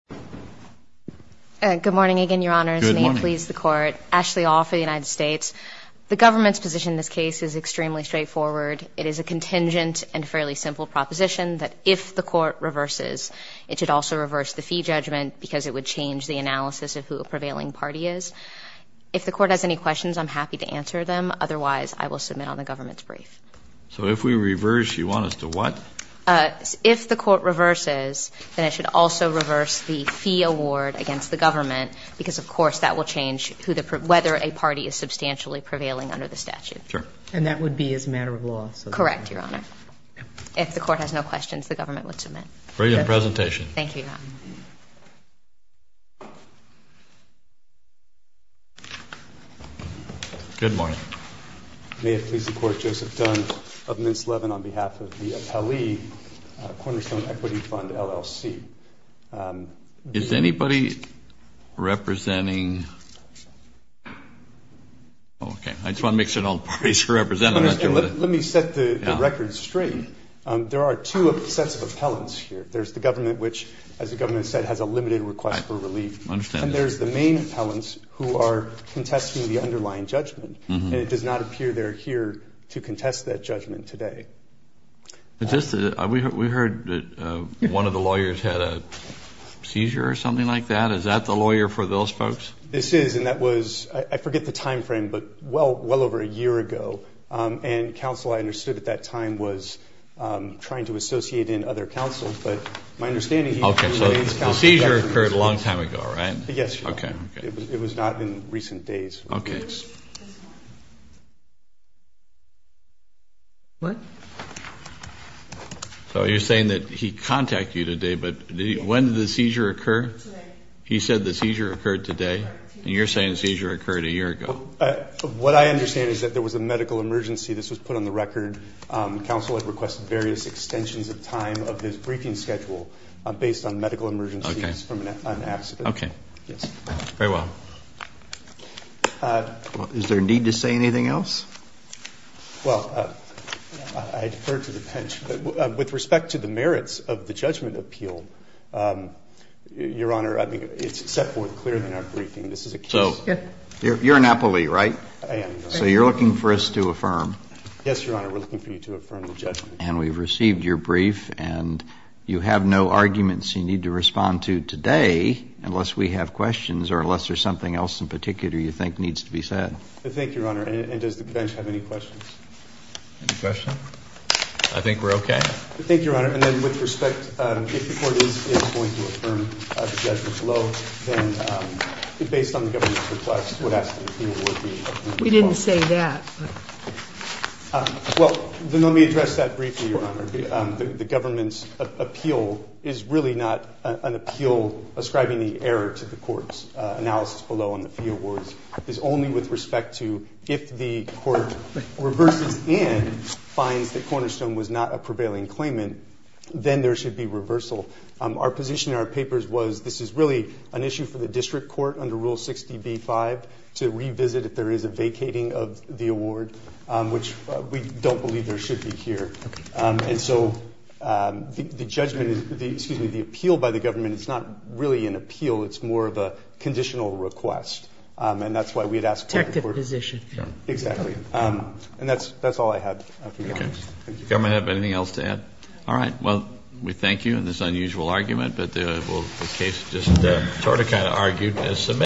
Good morning, again, Your Honors. May it please the Court. Ashley All for the United States. The government's position in this case is extremely straightforward. It is a contingent and fairly simple proposition that if the Court reverses, it should also reverse the fee judgment because it would change the analysis of who a prevailing party is. If the Court has any questions, I'm happy to answer them. Otherwise, I will submit on the government's brief. So if we reverse, you want us to what? If the Court reverses, then it should also reverse the fee award against the government because, of course, that will change whether a party is substantially prevailing under the statute. And that would be as a matter of law? Correct, Your Honor. If the Court has no questions, the government would submit. Brilliant presentation. Thank you, Your Honor. Good morning. May it please the Court. Joseph Dunn of Mintz-Levin on behalf of the Appellee Cornerstone Equity Fund, LLC. Is anybody representing? Okay. I just want to make sure no parties are represented. Let me set the record straight. There are two sets of appellants here. There's the government, which, as the government said, has a limited request for relief. I understand. And there's the main appellants who are contesting the underlying judgment. And it does not appear they're here to contest that judgment today. We heard that one of the lawyers had a seizure or something like that. Is that the lawyer for those folks? This is. And that was, I forget the time frame, but well over a year ago. And counsel, I understood at that time, was trying to associate in other counsel. Okay. So the seizure occurred a long time ago, right? Yes, Your Honor. Okay. It was not in recent days. Okay. So you're saying that he contacted you today, but when did the seizure occur? Today. He said the seizure occurred today, and you're saying the seizure occurred a year ago. What I understand is that there was a medical emergency. This was put on the record. Counsel had requested various extensions of time of his briefing schedule based on medical emergencies from an accident. Okay. Yes. Very well. Is there need to say anything else? Well, I defer to the bench. With respect to the merits of the judgment appeal, Your Honor, it's set forth clearly in our briefing. This is a case. So you're an appellee, right? I am. So you're looking for us to affirm. Yes, Your Honor. We're looking for you to affirm the judgment. And we've received your brief, and you have no arguments you need to respond to today unless we have questions or unless there's something else in particular you think needs to be said. Thank you, Your Honor. And does the bench have any questions? Any questions? I think we're okay. Thank you, Your Honor. And then with respect, if the court is going to affirm the judgment below, then based on the government's request, We didn't say that. Well, then let me address that briefly, Your Honor. The government's appeal is really not an appeal ascribing the error to the court's analysis below on the fee awards. It's only with respect to if the court reverses and finds that Cornerstone was not a prevailing claimant, then there should be reversal. Our position in our papers was this is really an issue for the district court under Rule 60B-5 to revisit if there is a vacating of the award, which we don't believe there should be here. And so the judgment, excuse me, the appeal by the government is not really an appeal. It's more of a conditional request. And that's why we had asked for it. Protective position. Exactly. And that's all I have. Does the government have anything else to add? All right. Well, we thank you in this unusual argument, but the case just sort of kind of argued as submitted.